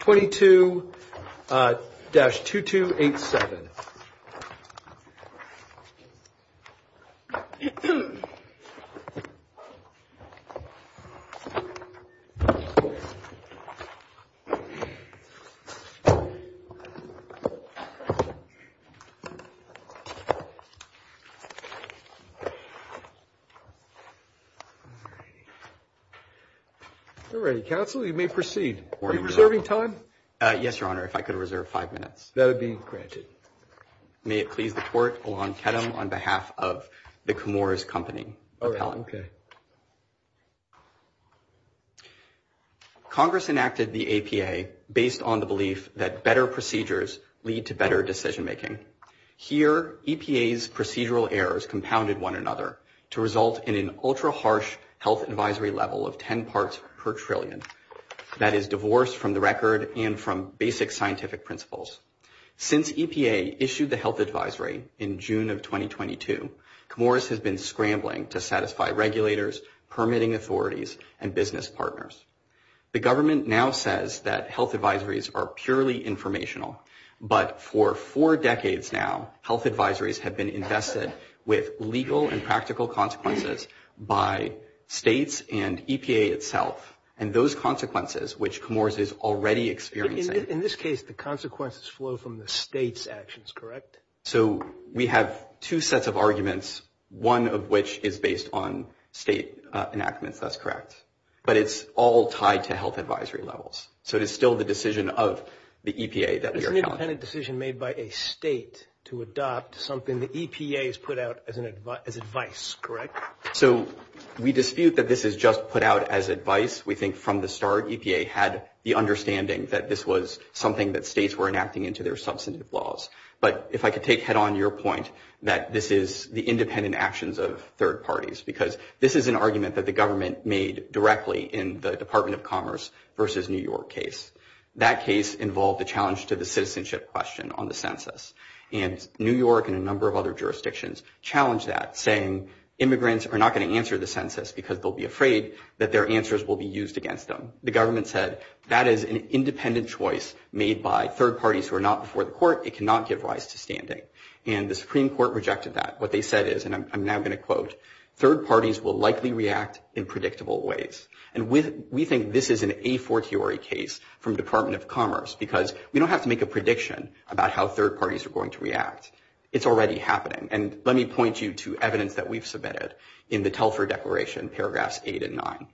22-2287 All righty, counsel, you may proceed. Are you reserving time? Yes, Your Honour, if I could reserve five minutes. That would be granted. May it please the Court, Alon Kedem on behalf of the Camours Company. All right, okay. Congress enacted the APA based on the belief that better procedures lead to better decision-making. Here, EPA's procedural errors compounded one another to result in an ultra-harsh health advisory level of 10 parts per trillion that is divorced from the record and from basic scientific principles. Since EPA issued the health advisory in June of 2022, Camours has been scrambling to satisfy regulators, permitting authorities, and business partners. The government now says that health advisories are purely informational, but for four decades now, health advisories have been invested with legal and practical consequences by states and EPA itself, and those consequences, which Camours is already experiencing. In this case, the consequences flow from the state's actions, correct? So we have two sets of arguments, one of which is based on state enactments. That's correct. But it's all tied to health advisory levels. So it is still the decision of the EPA that we are counting on. It's an independent decision made by a state to adopt something the EPA has put out as advice, correct? So we dispute that this is just put out as advice. We think from the start EPA had the understanding that this was something that states were enacting into their substantive laws. But if I could take head-on your point that this is the independent actions of third parties, because this is an argument that the government made directly in the Department of Commerce versus New York case. That case involved a challenge to the citizenship question on the census, and New York and a number of other jurisdictions challenged that, saying immigrants are not going to answer the census because they'll be afraid that their answers will be used against them. The government said that is an independent choice made by third parties who are not before the court. It cannot give rise to standing. And the Supreme Court rejected that. What they said is, and I'm now going to quote, third parties will likely react in predictable ways. And we think this is an a fortiori case from Department of Commerce, because we don't have to make a prediction about how third parties are going to react. It's already happening. And let me point you to evidence that we've submitted in the Telfer Declaration, paragraphs 8 and 9.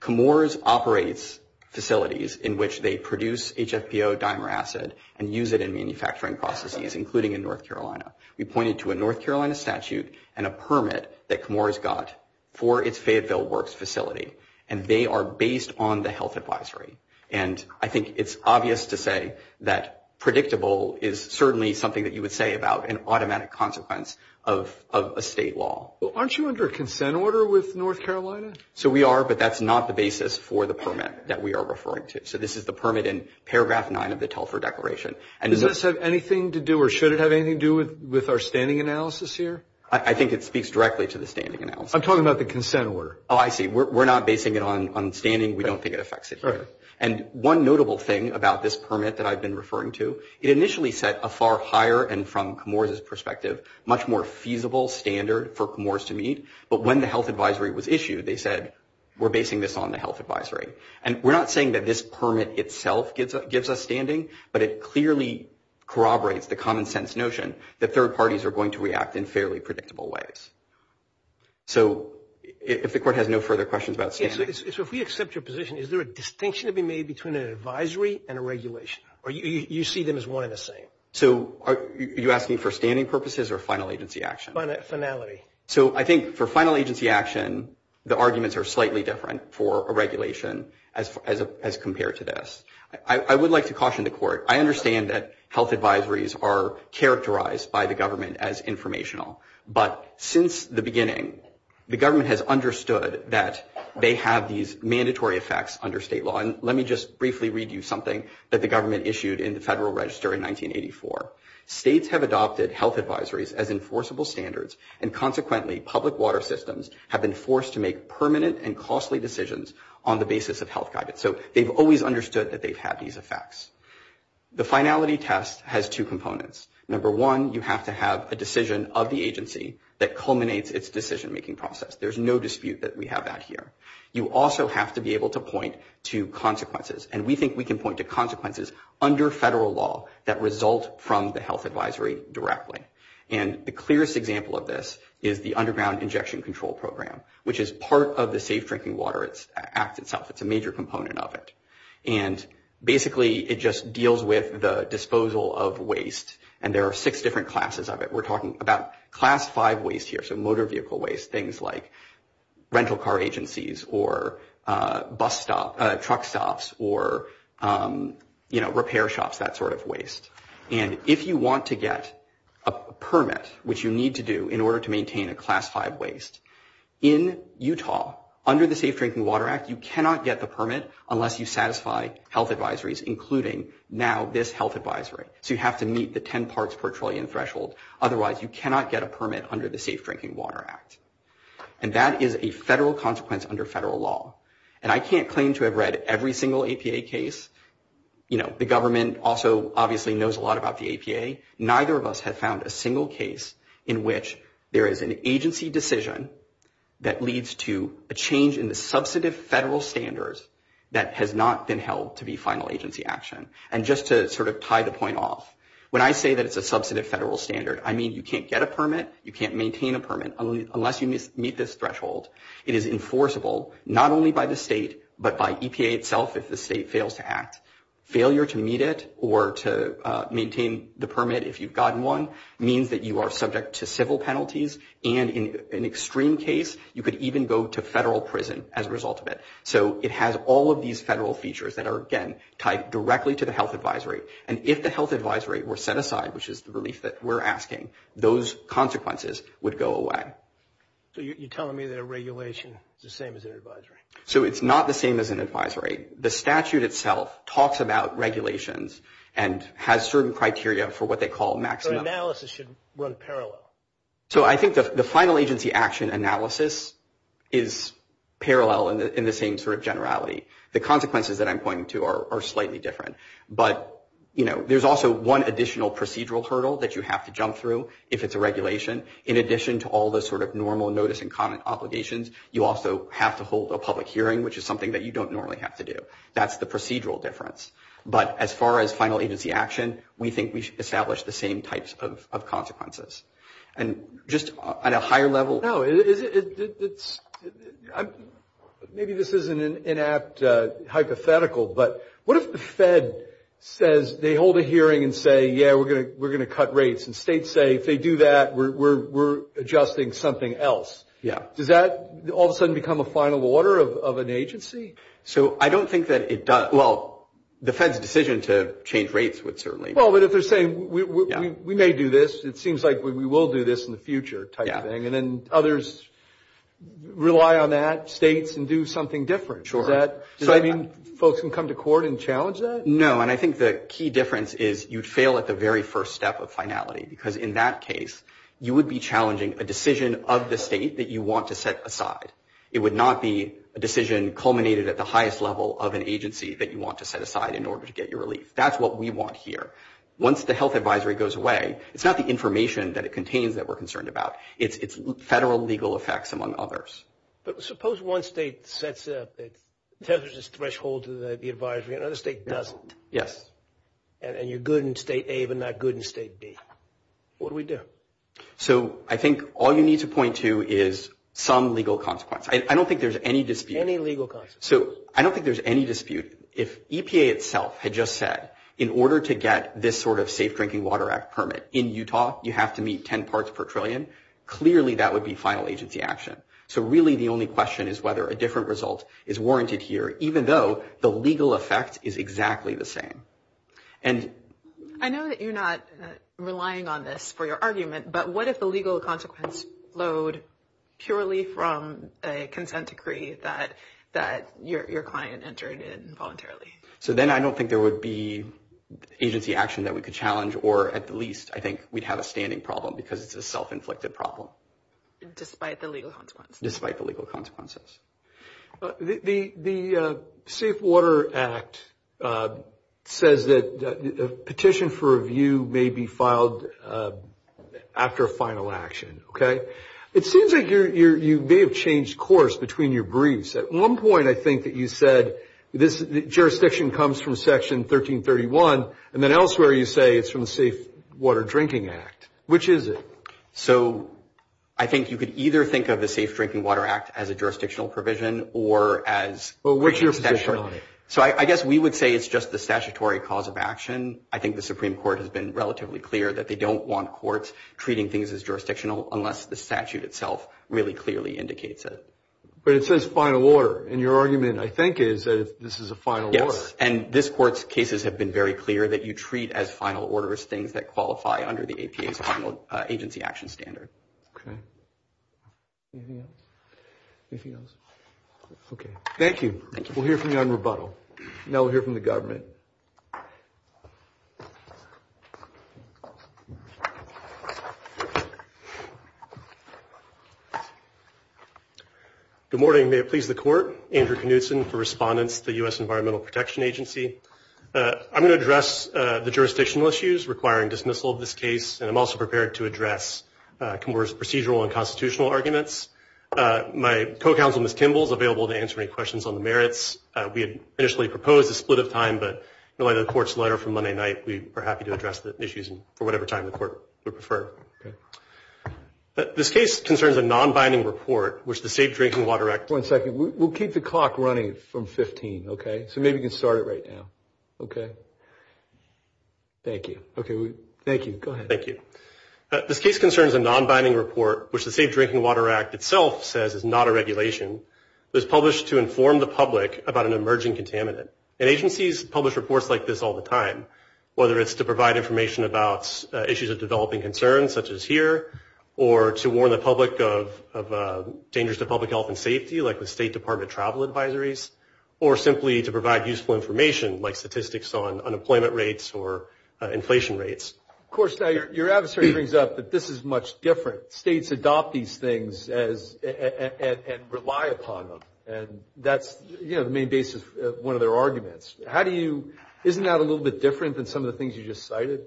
Comores operates facilities in which they produce HFPO dimer acid and use it in manufacturing processes, including in North Carolina. We pointed to a North Carolina statute and a permit that Comores got for its Fayetteville Works facility, and they are based on the health advisory. And I think it's obvious to say that predictable is certainly something that you would say about an automatic consequence of a state law. Aren't you under a consent order with North Carolina? So we are, but that's not the basis for the permit that we are referring to. So this is the permit in paragraph 9 of the Telfer Declaration. Does this have anything to do or should it have anything to do with our standing analysis here? I think it speaks directly to the standing analysis. I'm talking about the consent order. Oh, I see. We're not basing it on standing. We don't think it affects it here. And one notable thing about this permit that I've been referring to, it initially set a far higher and from Comores' perspective, much more feasible standard for Comores to meet. But when the health advisory was issued, they said, we're basing this on the health advisory. And we're not saying that this permit itself gives us standing, but it clearly corroborates the common sense notion that third parties are going to react in fairly predictable ways. So if the court has no further questions about standing. So if we accept your position, is there a distinction to be made between an advisory and a regulation? Or you see them as one and the same? So are you asking for standing purposes or final agency action? Finality. So I think for final agency action, the arguments are slightly different for a regulation as compared to this. I would like to caution the court. I understand that health advisories are characterized by the government as informational. But since the beginning, the government has understood that they have these mandatory effects under state law. And let me just briefly read you something that the government issued in the Federal Register in 1984. States have adopted health advisories as enforceable standards. And consequently, public water systems have been forced to make permanent and costly decisions on the basis of health guidance. So they've always understood that they've had these effects. The finality test has two components. Number one, you have to have a decision of the agency that culminates its decision-making process. There's no dispute that we have that here. You also have to be able to point to consequences. And we think we can point to consequences under federal law that result from the health advisory directly. And the clearest example of this is the Underground Injection Control Program, which is part of the Safe Drinking Water Act itself. It's a major component of it. And basically, it just deals with the disposal of waste. And there are six different classes of it. We're talking about Class 5 waste here, so motor vehicle waste, things like rental car agencies or bus stops, truck stops, or, you know, repair shops, that sort of waste. And if you want to get a permit, which you need to do in order to maintain a Class 5 waste, in Utah, under the Safe Drinking Water Act, you cannot get the permit unless you satisfy health advisories, including now this health advisory. So you have to meet the 10 parts per trillion threshold. Otherwise, you cannot get a permit under the Safe Drinking Water Act. And that is a federal consequence under federal law. And I can't claim to have read every single APA case. You know, the government also obviously knows a lot about the APA. Neither of us have found a single case in which there is an agency decision that leads to a change in the substantive federal standards that has not been held to be final agency action. And just to sort of tie the point off, when I say that it's a substantive federal standard, I mean you can't get a permit, you can't maintain a permit, unless you meet this threshold. It is enforceable, not only by the state, but by EPA itself if the state fails to act. Failure to meet it or to maintain the permit, if you've gotten one, means that you are subject to civil penalties. And in an extreme case, you could even go to federal prison as a result of it. So it has all of these federal features that are, again, tied directly to the health advisory. And if the health advisory were set aside, which is the relief that we're asking, those consequences would go away. So you're telling me that a regulation is the same as an advisory. So it's not the same as an advisory. The statute itself talks about regulations and has certain criteria for what they call maximum. So analysis should run parallel. So I think the final agency action analysis is parallel in the same sort of generality. The consequences that I'm pointing to are slightly different. But, you know, there's also one additional procedural hurdle that you have to jump through if it's a regulation. In addition to all the sort of normal notice and comment obligations, you also have to hold a public hearing, which is something that you don't normally have to do. That's the procedural difference. But as far as final agency action, we think we should establish the same types of consequences. And just on a higher level. No. Maybe this is an inapt hypothetical, but what if the Fed says they hold a hearing and say, yeah, we're going to cut rates, and states say if they do that, we're adjusting something else. Yeah. Does that all of a sudden become a final order of an agency? So I don't think that it does. Well, the Fed's decision to change rates would certainly. Well, but if they're saying we may do this, it seems like we will do this in the future type thing. And then others rely on that, states, and do something different. Sure. Does that mean folks can come to court and challenge that? No, and I think the key difference is you'd fail at the very first step of finality, because in that case you would be challenging a decision of the state that you want to set aside. It would not be a decision culminated at the highest level of an agency that you want to set aside in order to get your relief. That's what we want here. Once the health advisory goes away, it's not the information that it contains that we're concerned about. It's federal legal effects among others. But suppose one state sets up its threshold to the advisory and another state doesn't. Yes. And you're good in state A but not good in state B. What do we do? So I think all you need to point to is some legal consequence. I don't think there's any dispute. Any legal consequence. So I don't think there's any dispute. If EPA itself had just said, in order to get this sort of Safe Drinking Water Act permit in Utah, you have to meet ten parts per trillion, clearly that would be final agency action. So really the only question is whether a different result is warranted here, even though the legal effect is exactly the same. And I know that you're not relying on this for your argument, but what if the legal consequence flowed purely from a consent decree that your client entered in voluntarily? So then I don't think there would be agency action that we could challenge, or at the least I think we'd have a standing problem because it's a self-inflicted problem. Despite the legal consequence. Despite the legal consequences. The Safe Water Act says that a petition for review may be filed after a final action, okay? It seems like you may have changed course between your briefs. At one point I think that you said jurisdiction comes from Section 1331, and then elsewhere you say it's from the Safe Water Drinking Act. Which is it? So I think you could either think of the Safe Drinking Water Act as a jurisdictional provision or as… Well, what's your position on it? So I guess we would say it's just the statutory cause of action. I think the Supreme Court has been relatively clear that they don't want courts treating things as jurisdictional unless the statute itself really clearly indicates it. But it says final order, and your argument, I think, is that this is a final order. Yes. And this court's cases have been very clear that you treat as final orders things that qualify under the APA's final agency action standard. Okay. Anything else? Anything else? Okay. Thank you. We'll hear from you on rebuttal. Now we'll hear from the government. Good morning. May it please the court. Andrew Knutson for respondents to the U.S. Environmental Protection Agency. I'm going to address the jurisdictional issues requiring dismissal of this case, and I'm also prepared to address Comora's procedural and constitutional arguments. My co-counsel, Ms. Kimball, is available to answer any questions on the merits. We had initially proposed a split of time, but in light of the court's letter from Monday night, we are happy to address the issues for whatever time the court would prefer. This case concerns a non-binding report, which the Safe Drinking Water Act. One second. We'll keep the clock running from 15, okay? So maybe we can start it right now. Okay. Thank you. Okay. Thank you. Go ahead. Thank you. This case concerns a non-binding report, which the Safe Drinking Water Act itself says is not a regulation. It was published to inform the public about an emerging contaminant. And agencies publish reports like this all the time, whether it's to provide information about issues of developing concern, such as here, or to warn the public of dangers to public health and safety, like the State Department travel advisories, or simply to provide useful information, like statistics on unemployment rates or inflation rates. Of course, your adversary brings up that this is much different. States adopt these things and rely upon them, and that's, you know, the main basis of one of their arguments. How do you – isn't that a little bit different than some of the things you just cited?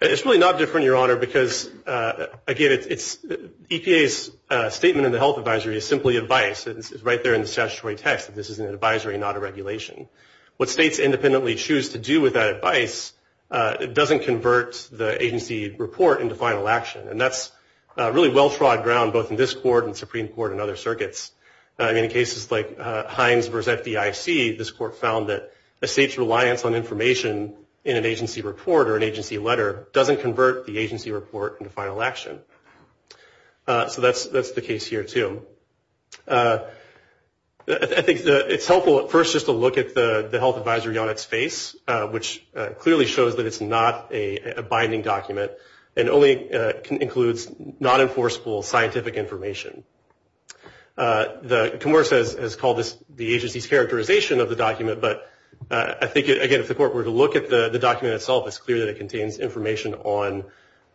It's really not different, Your Honor, because, again, EPA's statement in the health advisory is simply advice. It's right there in the statutory text that this is an advisory, not a regulation. What states independently choose to do with that advice doesn't convert the agency report into final action, and that's really well-trod ground, both in this court and the Supreme Court and other circuits. I mean, in cases like Hines v. FDIC, this court found that a state's reliance on information in an agency report or an agency letter doesn't convert the agency report into final action. So that's the case here, too. I think it's helpful, at first, just to look at the health advisory on its face, which clearly shows that it's not a binding document and only includes non-enforceable scientific information. Comerce has called this the agency's characterization of the document, but I think, again, if the court were to look at the document itself, it's clear that it contains information on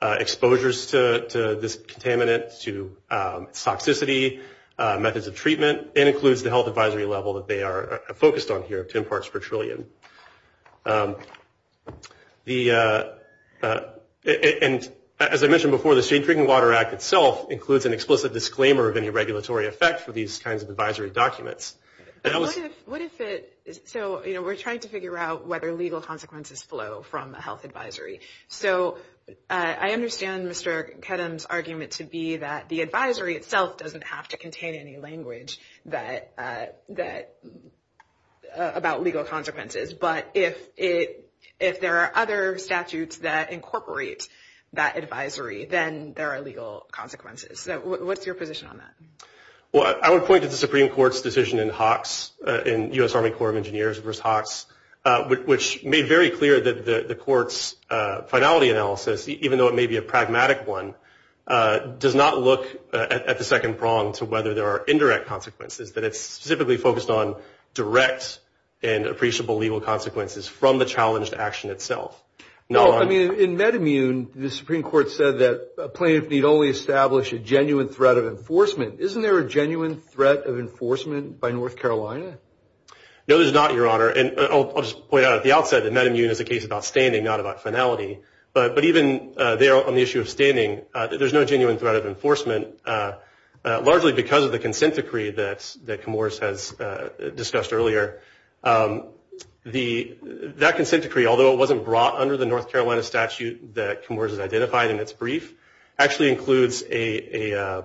exposures to this contaminant, to its toxicity, methods of treatment, and includes the health advisory level that they are focused on here, 10 parts per trillion. And as I mentioned before, the State Drinking Water Act itself includes an explicit disclaimer of any regulatory effect for these kinds of advisory documents. So we're trying to figure out whether legal consequences flow from a health advisory. So I understand Mr. Kedem's argument to be that the advisory itself doesn't have to contain any language about legal consequences. But if there are other statutes that incorporate that advisory, then there are legal consequences. So what's your position on that? Well, I would point to the Supreme Court's decision in Hawks, in U.S. Army Corps of Engineers v. Hawks, which made very clear that the court's finality analysis, even though it may be a pragmatic one, does not look at the second prong to whether there are indirect consequences, that it's specifically focused on direct and appreciable legal consequences from the challenged action itself. No, I mean, in MedImmune, the Supreme Court said that a plaintiff need only establish a genuine threat of enforcement. Isn't there a genuine threat of enforcement by North Carolina? No, there's not, Your Honor. And I'll just point out at the outset that MedImmune is a case about standing, not about finality. But even there on the issue of standing, there's no genuine threat of enforcement, largely because of the consent decree that Comoros has discussed earlier. That consent decree, although it wasn't brought under the North Carolina statute that Comoros has identified in its brief, actually includes a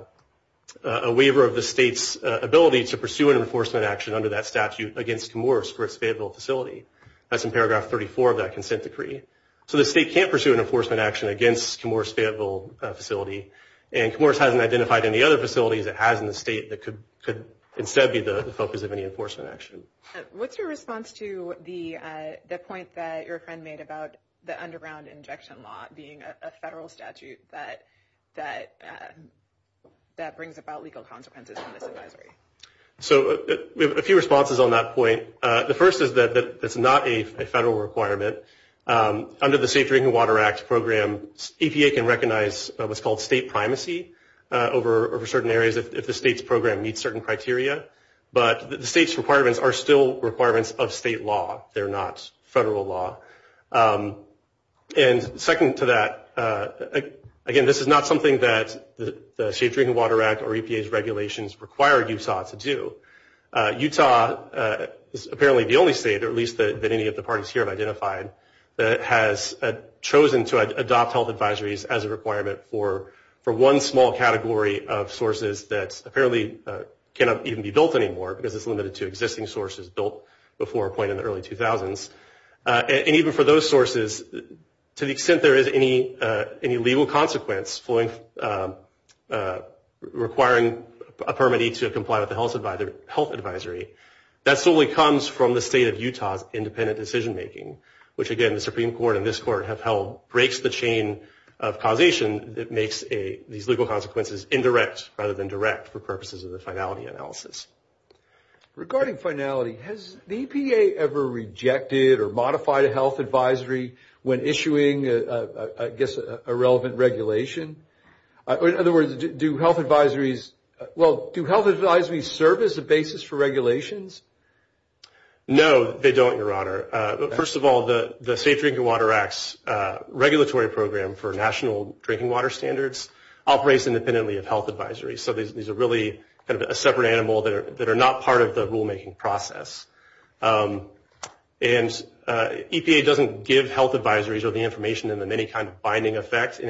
waiver of the state's ability to pursue an enforcement action under that statute against Comoros for its Fayetteville facility. That's in paragraph 34 of that consent decree. So the state can't pursue an enforcement action against Comoros' Fayetteville facility, and Comoros hasn't identified any other facilities it has in the state that could instead be the focus of any enforcement action. What's your response to the point that your friend made about the underground injection law being a federal statute that brings about legal consequences from this advisory? So we have a few responses on that point. The first is that it's not a federal requirement. Under the Safe Drinking Water Act program, EPA can recognize what's called state primacy over certain areas if the state's program meets certain criteria. But the state's requirements are still requirements of state law. They're not federal law. And second to that, again, this is not something that the Safe Drinking Water Act or EPA's regulations require Utah to do. Utah is apparently the only state, or at least that any of the parties here have identified, that has chosen to adopt health advisories as a requirement for one small category of sources that apparently cannot even be built anymore because it's limited to existing sources built before a point in the early 2000s. And even for those sources, to the extent there is any legal consequence requiring a permittee to comply with the health advisory, that solely comes from the state of Utah's independent decision making, which again the Supreme Court and this Court have held breaks the chain of causation that makes these legal consequences indirect rather than direct for purposes of the finality analysis. Regarding finality, has the EPA ever rejected or modified a health advisory when issuing, I guess, a relevant regulation? In other words, do health advisories, well, do health advisories serve as a basis for regulations? No, they don't, Your Honor. First of all, the Safe Drinking Water Act's regulatory program for national drinking water standards operates independently of health advisories. So these are really kind of a separate animal that are not part of the rulemaking process. And EPA doesn't give health advisories or the information in any kind of binding effect in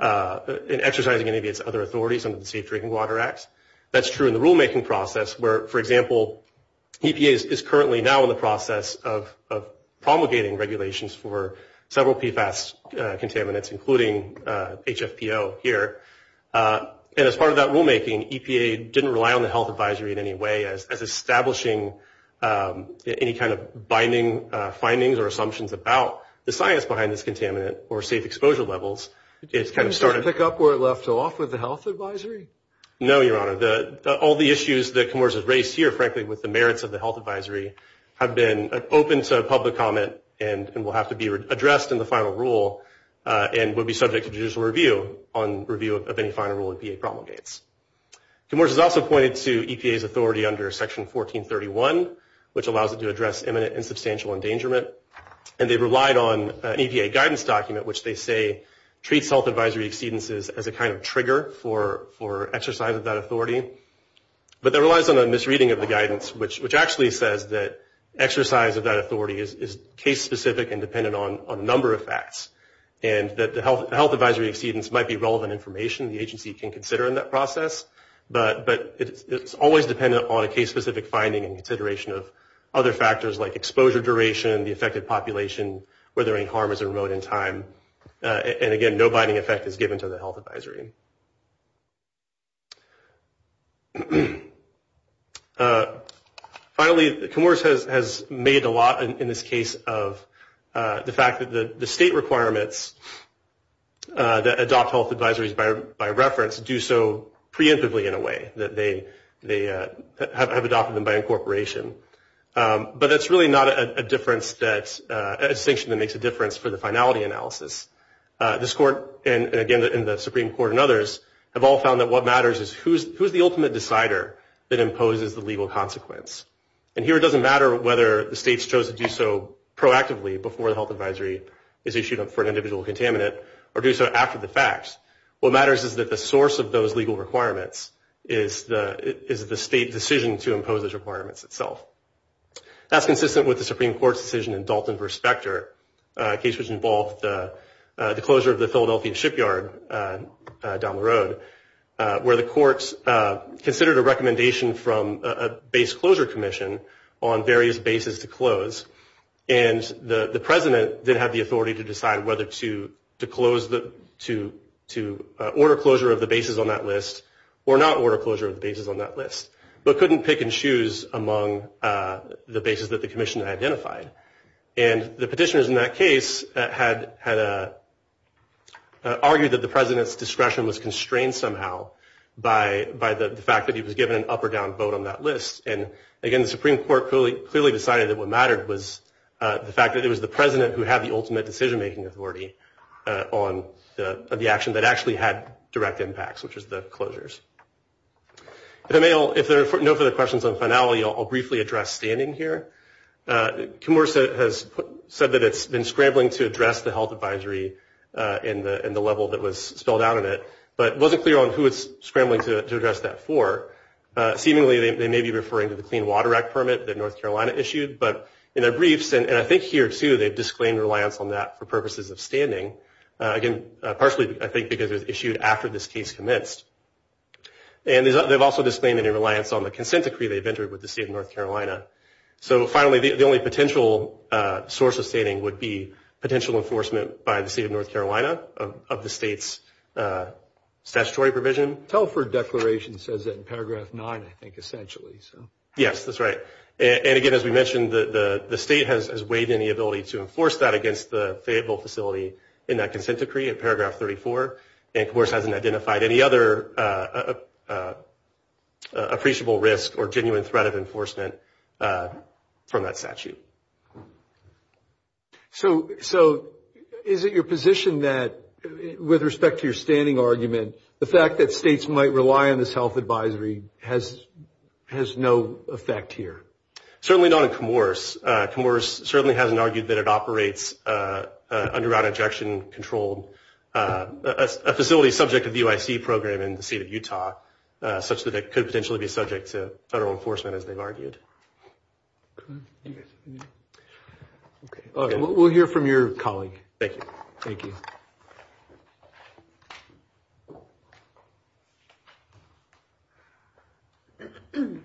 exercising any of its other authorities under the Safe Drinking Water Act. That's true in the rulemaking process where, for example, EPA is currently now in the process of promulgating regulations for several PFAS contaminants, including HFPO here. And as part of that rulemaking, EPA didn't rely on the health advisory in any way as establishing any kind of binding findings or assumptions about the science behind this contaminant or safe exposure levels. Can you just pick up where it left off with the health advisory? No, Your Honor. All the issues that Comoros has raised here, frankly, with the merits of the health advisory, have been open to public comment and will have to be addressed in the final rule and will be subject to judicial review on review of any final rule EPA promulgates. Comoros has also pointed to EPA's authority under Section 1431, which allows it to address imminent and substantial endangerment. And they relied on an EPA guidance document which they say treats health advisory exceedances as a kind of trigger for exercise of that authority. But that relies on a misreading of the guidance, which actually says that exercise of that authority is case-specific and dependent on a number of facts, and that the health advisory exceedance might be relevant information the agency can consider in that process. But it's always dependent on a case-specific finding and consideration of other factors like exposure duration, the affected population, whether any harm is remote in time. And, again, no binding effect is given to the health advisory. Finally, Comoros has made a lot in this case of the fact that the state requirements that adopt health advisories by reference do so preemptively in a way, that they have adopted them by incorporation. But that's really not a distinction that makes a difference for the finality analysis. This court and, again, the Supreme Court and others have all found that what matters is who's the ultimate decider that imposes the legal consequence. And here it doesn't matter whether the states chose to do so proactively before the health advisory is issued for an individual contaminant or do so after the facts. What matters is that the source of those legal requirements is the state decision to impose those requirements itself. That's consistent with the Supreme Court's decision in Dalton v. Specter, a case which involved the closure of the Philadelphian shipyard down the road, where the courts considered a recommendation from a base closure commission on various bases to close. And the president did have the authority to decide whether to order closure of the bases on that list or not order closure of the bases on that list, but couldn't pick and choose among the bases that the commission identified. And the petitioners in that case had argued that the president's discretion was constrained somehow by the fact that he was given an up or down vote on that list. And, again, the Supreme Court clearly decided that what mattered was the fact that it was the president who had the ultimate decision-making authority on the action that actually had direct impacts, which was the closures. If there are no further questions on finality, I'll briefly address standing here. Kimura has said that it's been scrambling to address the health advisory in the level that was spelled out in it, but wasn't clear on who it's scrambling to address that for. Seemingly, they may be referring to the Clean Water Act permit that North Carolina issued. But in their briefs, and I think here, too, they've disclaimed reliance on that for purposes of standing. Again, partially, I think, because it was issued after this case commenced. And they've also disclaimed any reliance on the consent decree they've entered with the state of North Carolina. So, finally, the only potential source of standing would be potential enforcement by the state of North Carolina of the state's statutory provision. The Telford Declaration says that in paragraph 9, I think, essentially. Yes, that's right. And, again, as we mentioned, the state has weighed in the ability to enforce that against the favorable facility in that consent decree in paragraph 34, and, of course, hasn't identified any other appreciable risk or genuine threat of enforcement from that statute. So, is it your position that, with respect to your standing argument, the fact that states might rely on this health advisory has no effect here? Certainly not in Comoros. Comoros certainly hasn't argued that it operates under route injection control, a facility subject to the UIC program in the state of Utah, such that it could potentially be subject to federal enforcement, as they've argued. Okay. We'll hear from your colleague. Thank you. Thank you.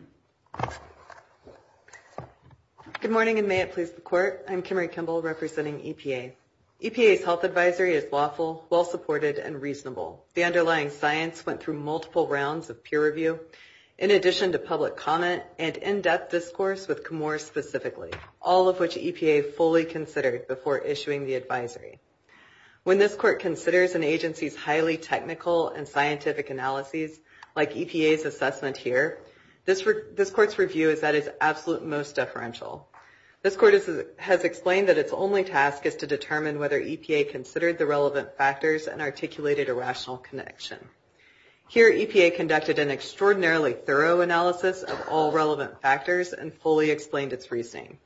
Good morning, and may it please the Court. I'm Kimmery Kimball, representing EPA. The underlying science went through multiple rounds of peer review, in addition to public comment and in-depth discourse with Comoros specifically, all of which EPA fully considered before issuing the advisory. When this Court considers an agency's highly technical and scientific analyses, like EPA's assessment here, this Court's review is at its absolute most deferential. This Court has explained that its only task is to determine whether EPA considered the relevant factors and articulated a rational connection. Here, EPA conducted an extraordinarily thorough analysis of all relevant factors and fully explained its reasoning.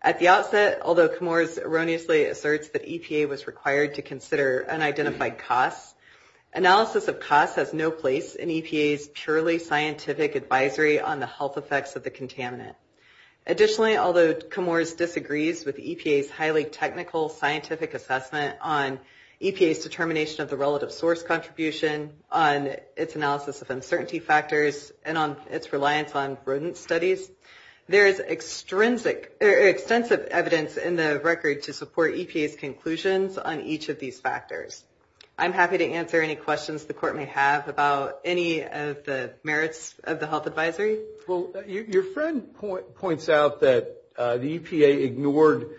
At the outset, although Comoros erroneously asserts that EPA was required to consider unidentified costs, analysis of costs has no place in EPA's purely scientific advisory on the health effects of the contaminant. Additionally, although Comoros disagrees with EPA's highly technical scientific assessment on EPA's determination of the relative source contribution, on its analysis of uncertainty factors, and on its reliance on rodent studies, there is extensive evidence in the record to support EPA's conclusions on each of these factors. I'm happy to answer any questions the Court may have about any of the merits of the health advisory. Well, your friend points out that the EPA ignored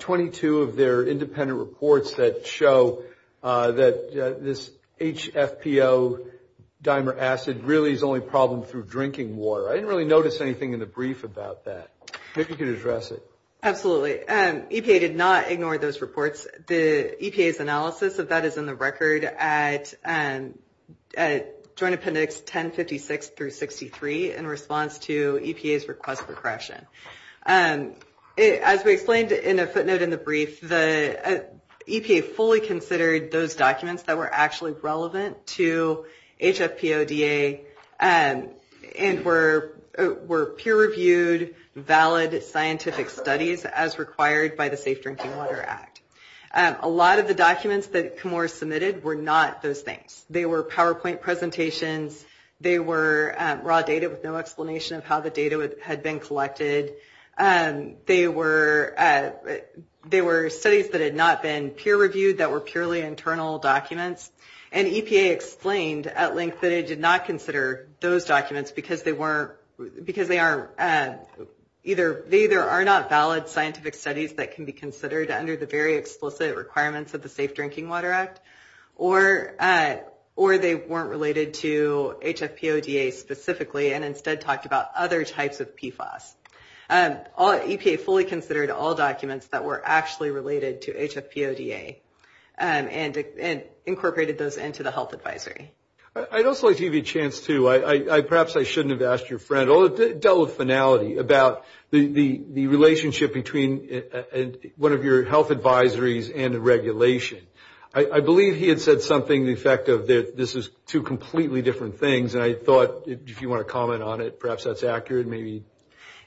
22 of their independent reports that show that this HFPO dimer acid really is the only problem through drinking water. I didn't really notice anything in the brief about that. Maybe you can address it. Absolutely. EPA did not ignore those reports. The EPA's analysis of that is in the record at Joint Appendix 1056 through 63 in response to EPA's request for correction. As we explained in a footnote in the brief, the EPA fully considered those documents that were actually relevant to HFPODA and were peer-reviewed, valid scientific studies as required by the Safe Drinking Water Act. A lot of the documents that Comoros submitted were not those things. They were PowerPoint presentations. They were raw data with no explanation of how the data had been collected. They were studies that had not been peer-reviewed, that were purely internal documents. And EPA explained at length that it did not consider those documents because they either are not valid scientific studies that can be considered under the very explicit requirements of the Safe Drinking Water Act, or they weren't related to HFPODA specifically and instead talked about other types of PFAS. EPA fully considered all documents that were actually related to HFPODA and incorporated those into the health advisory. I'd also like to give you a chance to, perhaps I shouldn't have asked your friend, although it dealt with finality about the relationship between one of your health advisories and a regulation. I believe he had said something to the effect of this is two completely different things, and I thought if you want to comment on it, perhaps that's accurate, maybe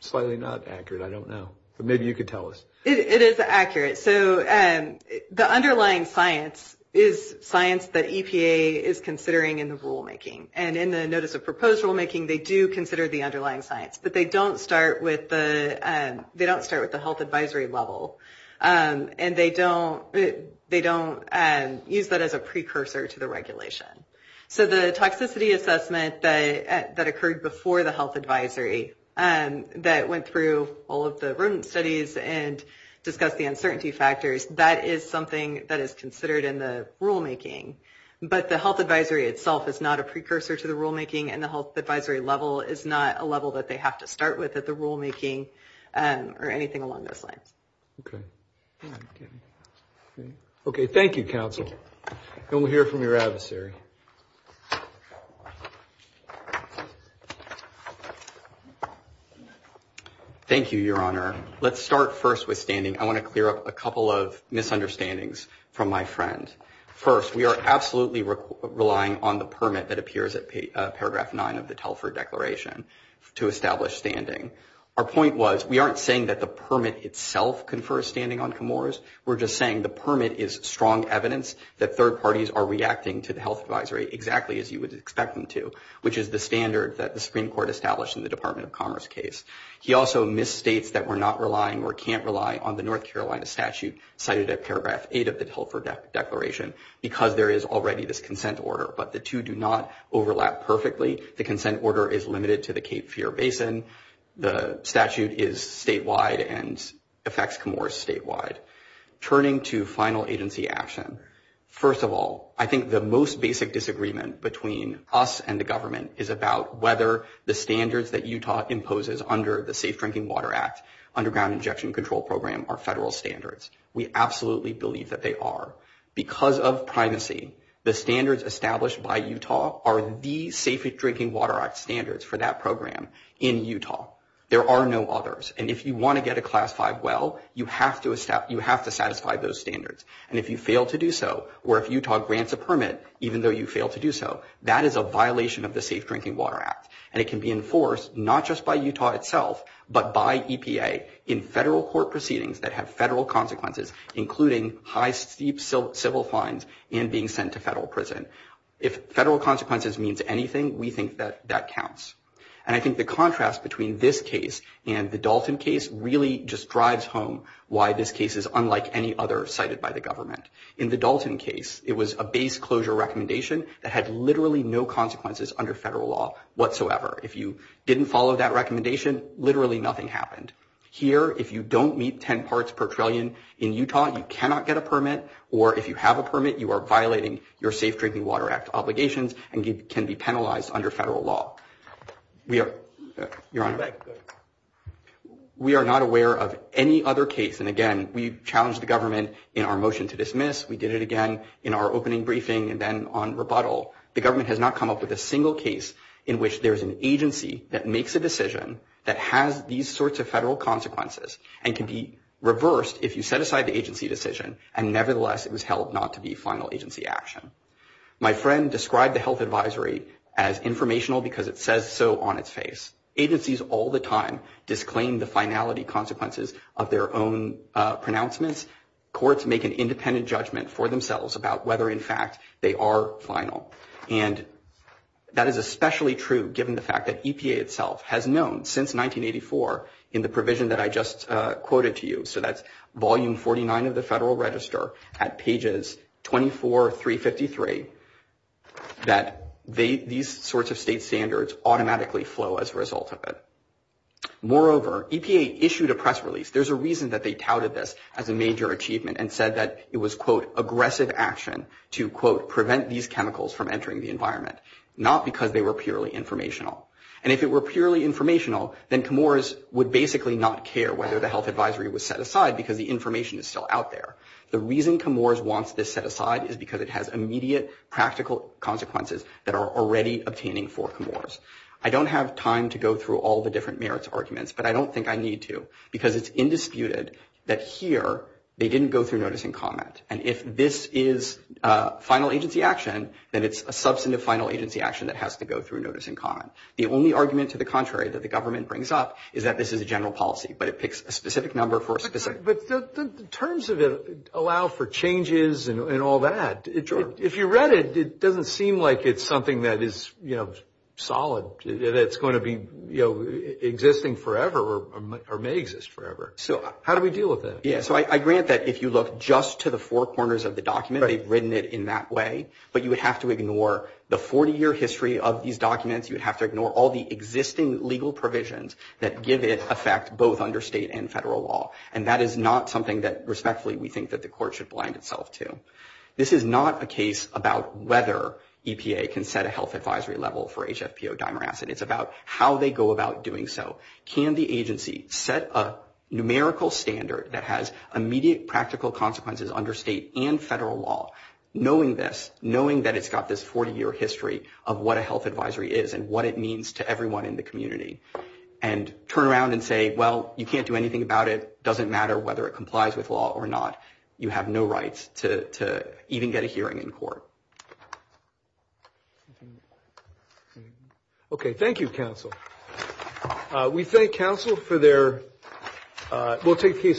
slightly not accurate, I don't know. But maybe you could tell us. It is accurate. So the underlying science is science that EPA is considering in the rulemaking. And in the Notice of Proposed Rulemaking, they do consider the underlying science, but they don't start with the health advisory level, and they don't use that as a precursor to the regulation. So the toxicity assessment that occurred before the health advisory, that went through all of the rodent studies and discussed the uncertainty factors, that is something that is considered in the rulemaking. But the health advisory itself is not a precursor to the rulemaking, and the health advisory level is not a level that they have to start with at the rulemaking or anything along those lines. Okay. Okay, thank you, Counsel. And we'll hear from your adversary. Thank you, Your Honor. Let's start first with standing. I want to clear up a couple of misunderstandings from my friend. First, we are absolutely relying on the permit that appears at paragraph 9 of the Telfer Declaration to establish standing. Our point was we aren't saying that the permit itself confers standing on Comores. We're just saying the permit is strong evidence that third parties are reacting to the health advisory exactly as you would expect them to, which is the standard that the Supreme Court established in the Department of Commerce case. He also misstates that we're not relying or can't rely on the North Carolina statute cited at paragraph 8 of the Telfer Declaration because there is already this consent order. But the two do not overlap perfectly. The consent order is limited to the Cape Fear Basin. The statute is statewide and affects Comores statewide. Turning to final agency action, first of all, I think the most basic disagreement between us and the government is about whether the standards that Utah imposes under the Safe Drinking Water Act Underground Injection Control Program are federal standards. We absolutely believe that they are. Because of privacy, the standards established by Utah are the Safe Drinking Water Act standards for that program in Utah. There are no others. And if you want to get a Class 5 well, you have to satisfy those standards. And if you fail to do so, or if Utah grants a permit even though you fail to do so, that is a violation of the Safe Drinking Water Act. And it can be enforced not just by Utah itself but by EPA in federal court proceedings that have federal consequences, including high, steep civil fines and being sent to federal prison. If federal consequences means anything, we think that that counts. And I think the contrast between this case and the Dalton case really just drives home why this case is unlike any other cited by the government. In the Dalton case, it was a base closure recommendation that had literally no consequences under federal law whatsoever. If you didn't follow that recommendation, literally nothing happened. Here, if you don't meet 10 parts per trillion in Utah, you cannot get a permit. Or if you have a permit, you are violating your Safe Drinking Water Act obligations and can be penalized under federal law. Your Honor, we are not aware of any other case. And again, we challenged the government in our motion to dismiss. We did it again in our opening briefing and then on rebuttal. The government has not come up with a single case in which there is an agency that makes a decision that has these sorts of federal consequences and can be reversed if you set aside the agency decision. And nevertheless, it was held not to be final agency action. My friend described the health advisory as informational because it says so on its face. Agencies all the time disclaim the finality consequences of their own pronouncements. These courts make an independent judgment for themselves about whether, in fact, they are final. And that is especially true given the fact that EPA itself has known since 1984 in the provision that I just quoted to you, so that's Volume 49 of the Federal Register at pages 24, 353, that these sorts of state standards automatically flow as a result of it. Moreover, EPA issued a press release. There's a reason that they touted this as a major achievement and said that it was, quote, aggressive action to, quote, prevent these chemicals from entering the environment, not because they were purely informational. And if it were purely informational, then COMORS would basically not care whether the health advisory was set aside because the information is still out there. The reason COMORS wants this set aside is because it has immediate practical consequences that are already obtaining for COMORS. I don't have time to go through all the different merits arguments, but I don't think I need to because it's indisputed that here they didn't go through notice and comment. And if this is final agency action, then it's a substantive final agency action that has to go through notice and comment. The only argument to the contrary that the government brings up is that this is a general policy, but it picks a specific number for a specific – But the terms of it allow for changes and all that. Sure. If you read it, it doesn't seem like it's something that is, you know, solid, that's going to be, you know, existing forever or may exist forever. So how do we deal with that? Yeah. So I grant that if you look just to the four corners of the document, they've written it in that way. But you would have to ignore the 40-year history of these documents. You would have to ignore all the existing legal provisions that give it effect both under state and federal law. And that is not something that, respectfully, we think that the court should blind itself to. This is not a case about whether EPA can set a health advisory level for HFPO dimer acid. It's about how they go about doing so. Can the agency set a numerical standard that has immediate practical consequences under state and federal law, knowing this, knowing that it's got this 40-year history of what a health advisory is and what it means to everyone in the community, and turn around and say, well, you can't do anything about it, doesn't matter whether it complies with law or not, you have no rights to even get a hearing in court. Okay. Thank you, counsel. We thank counsel for their – we'll take a case.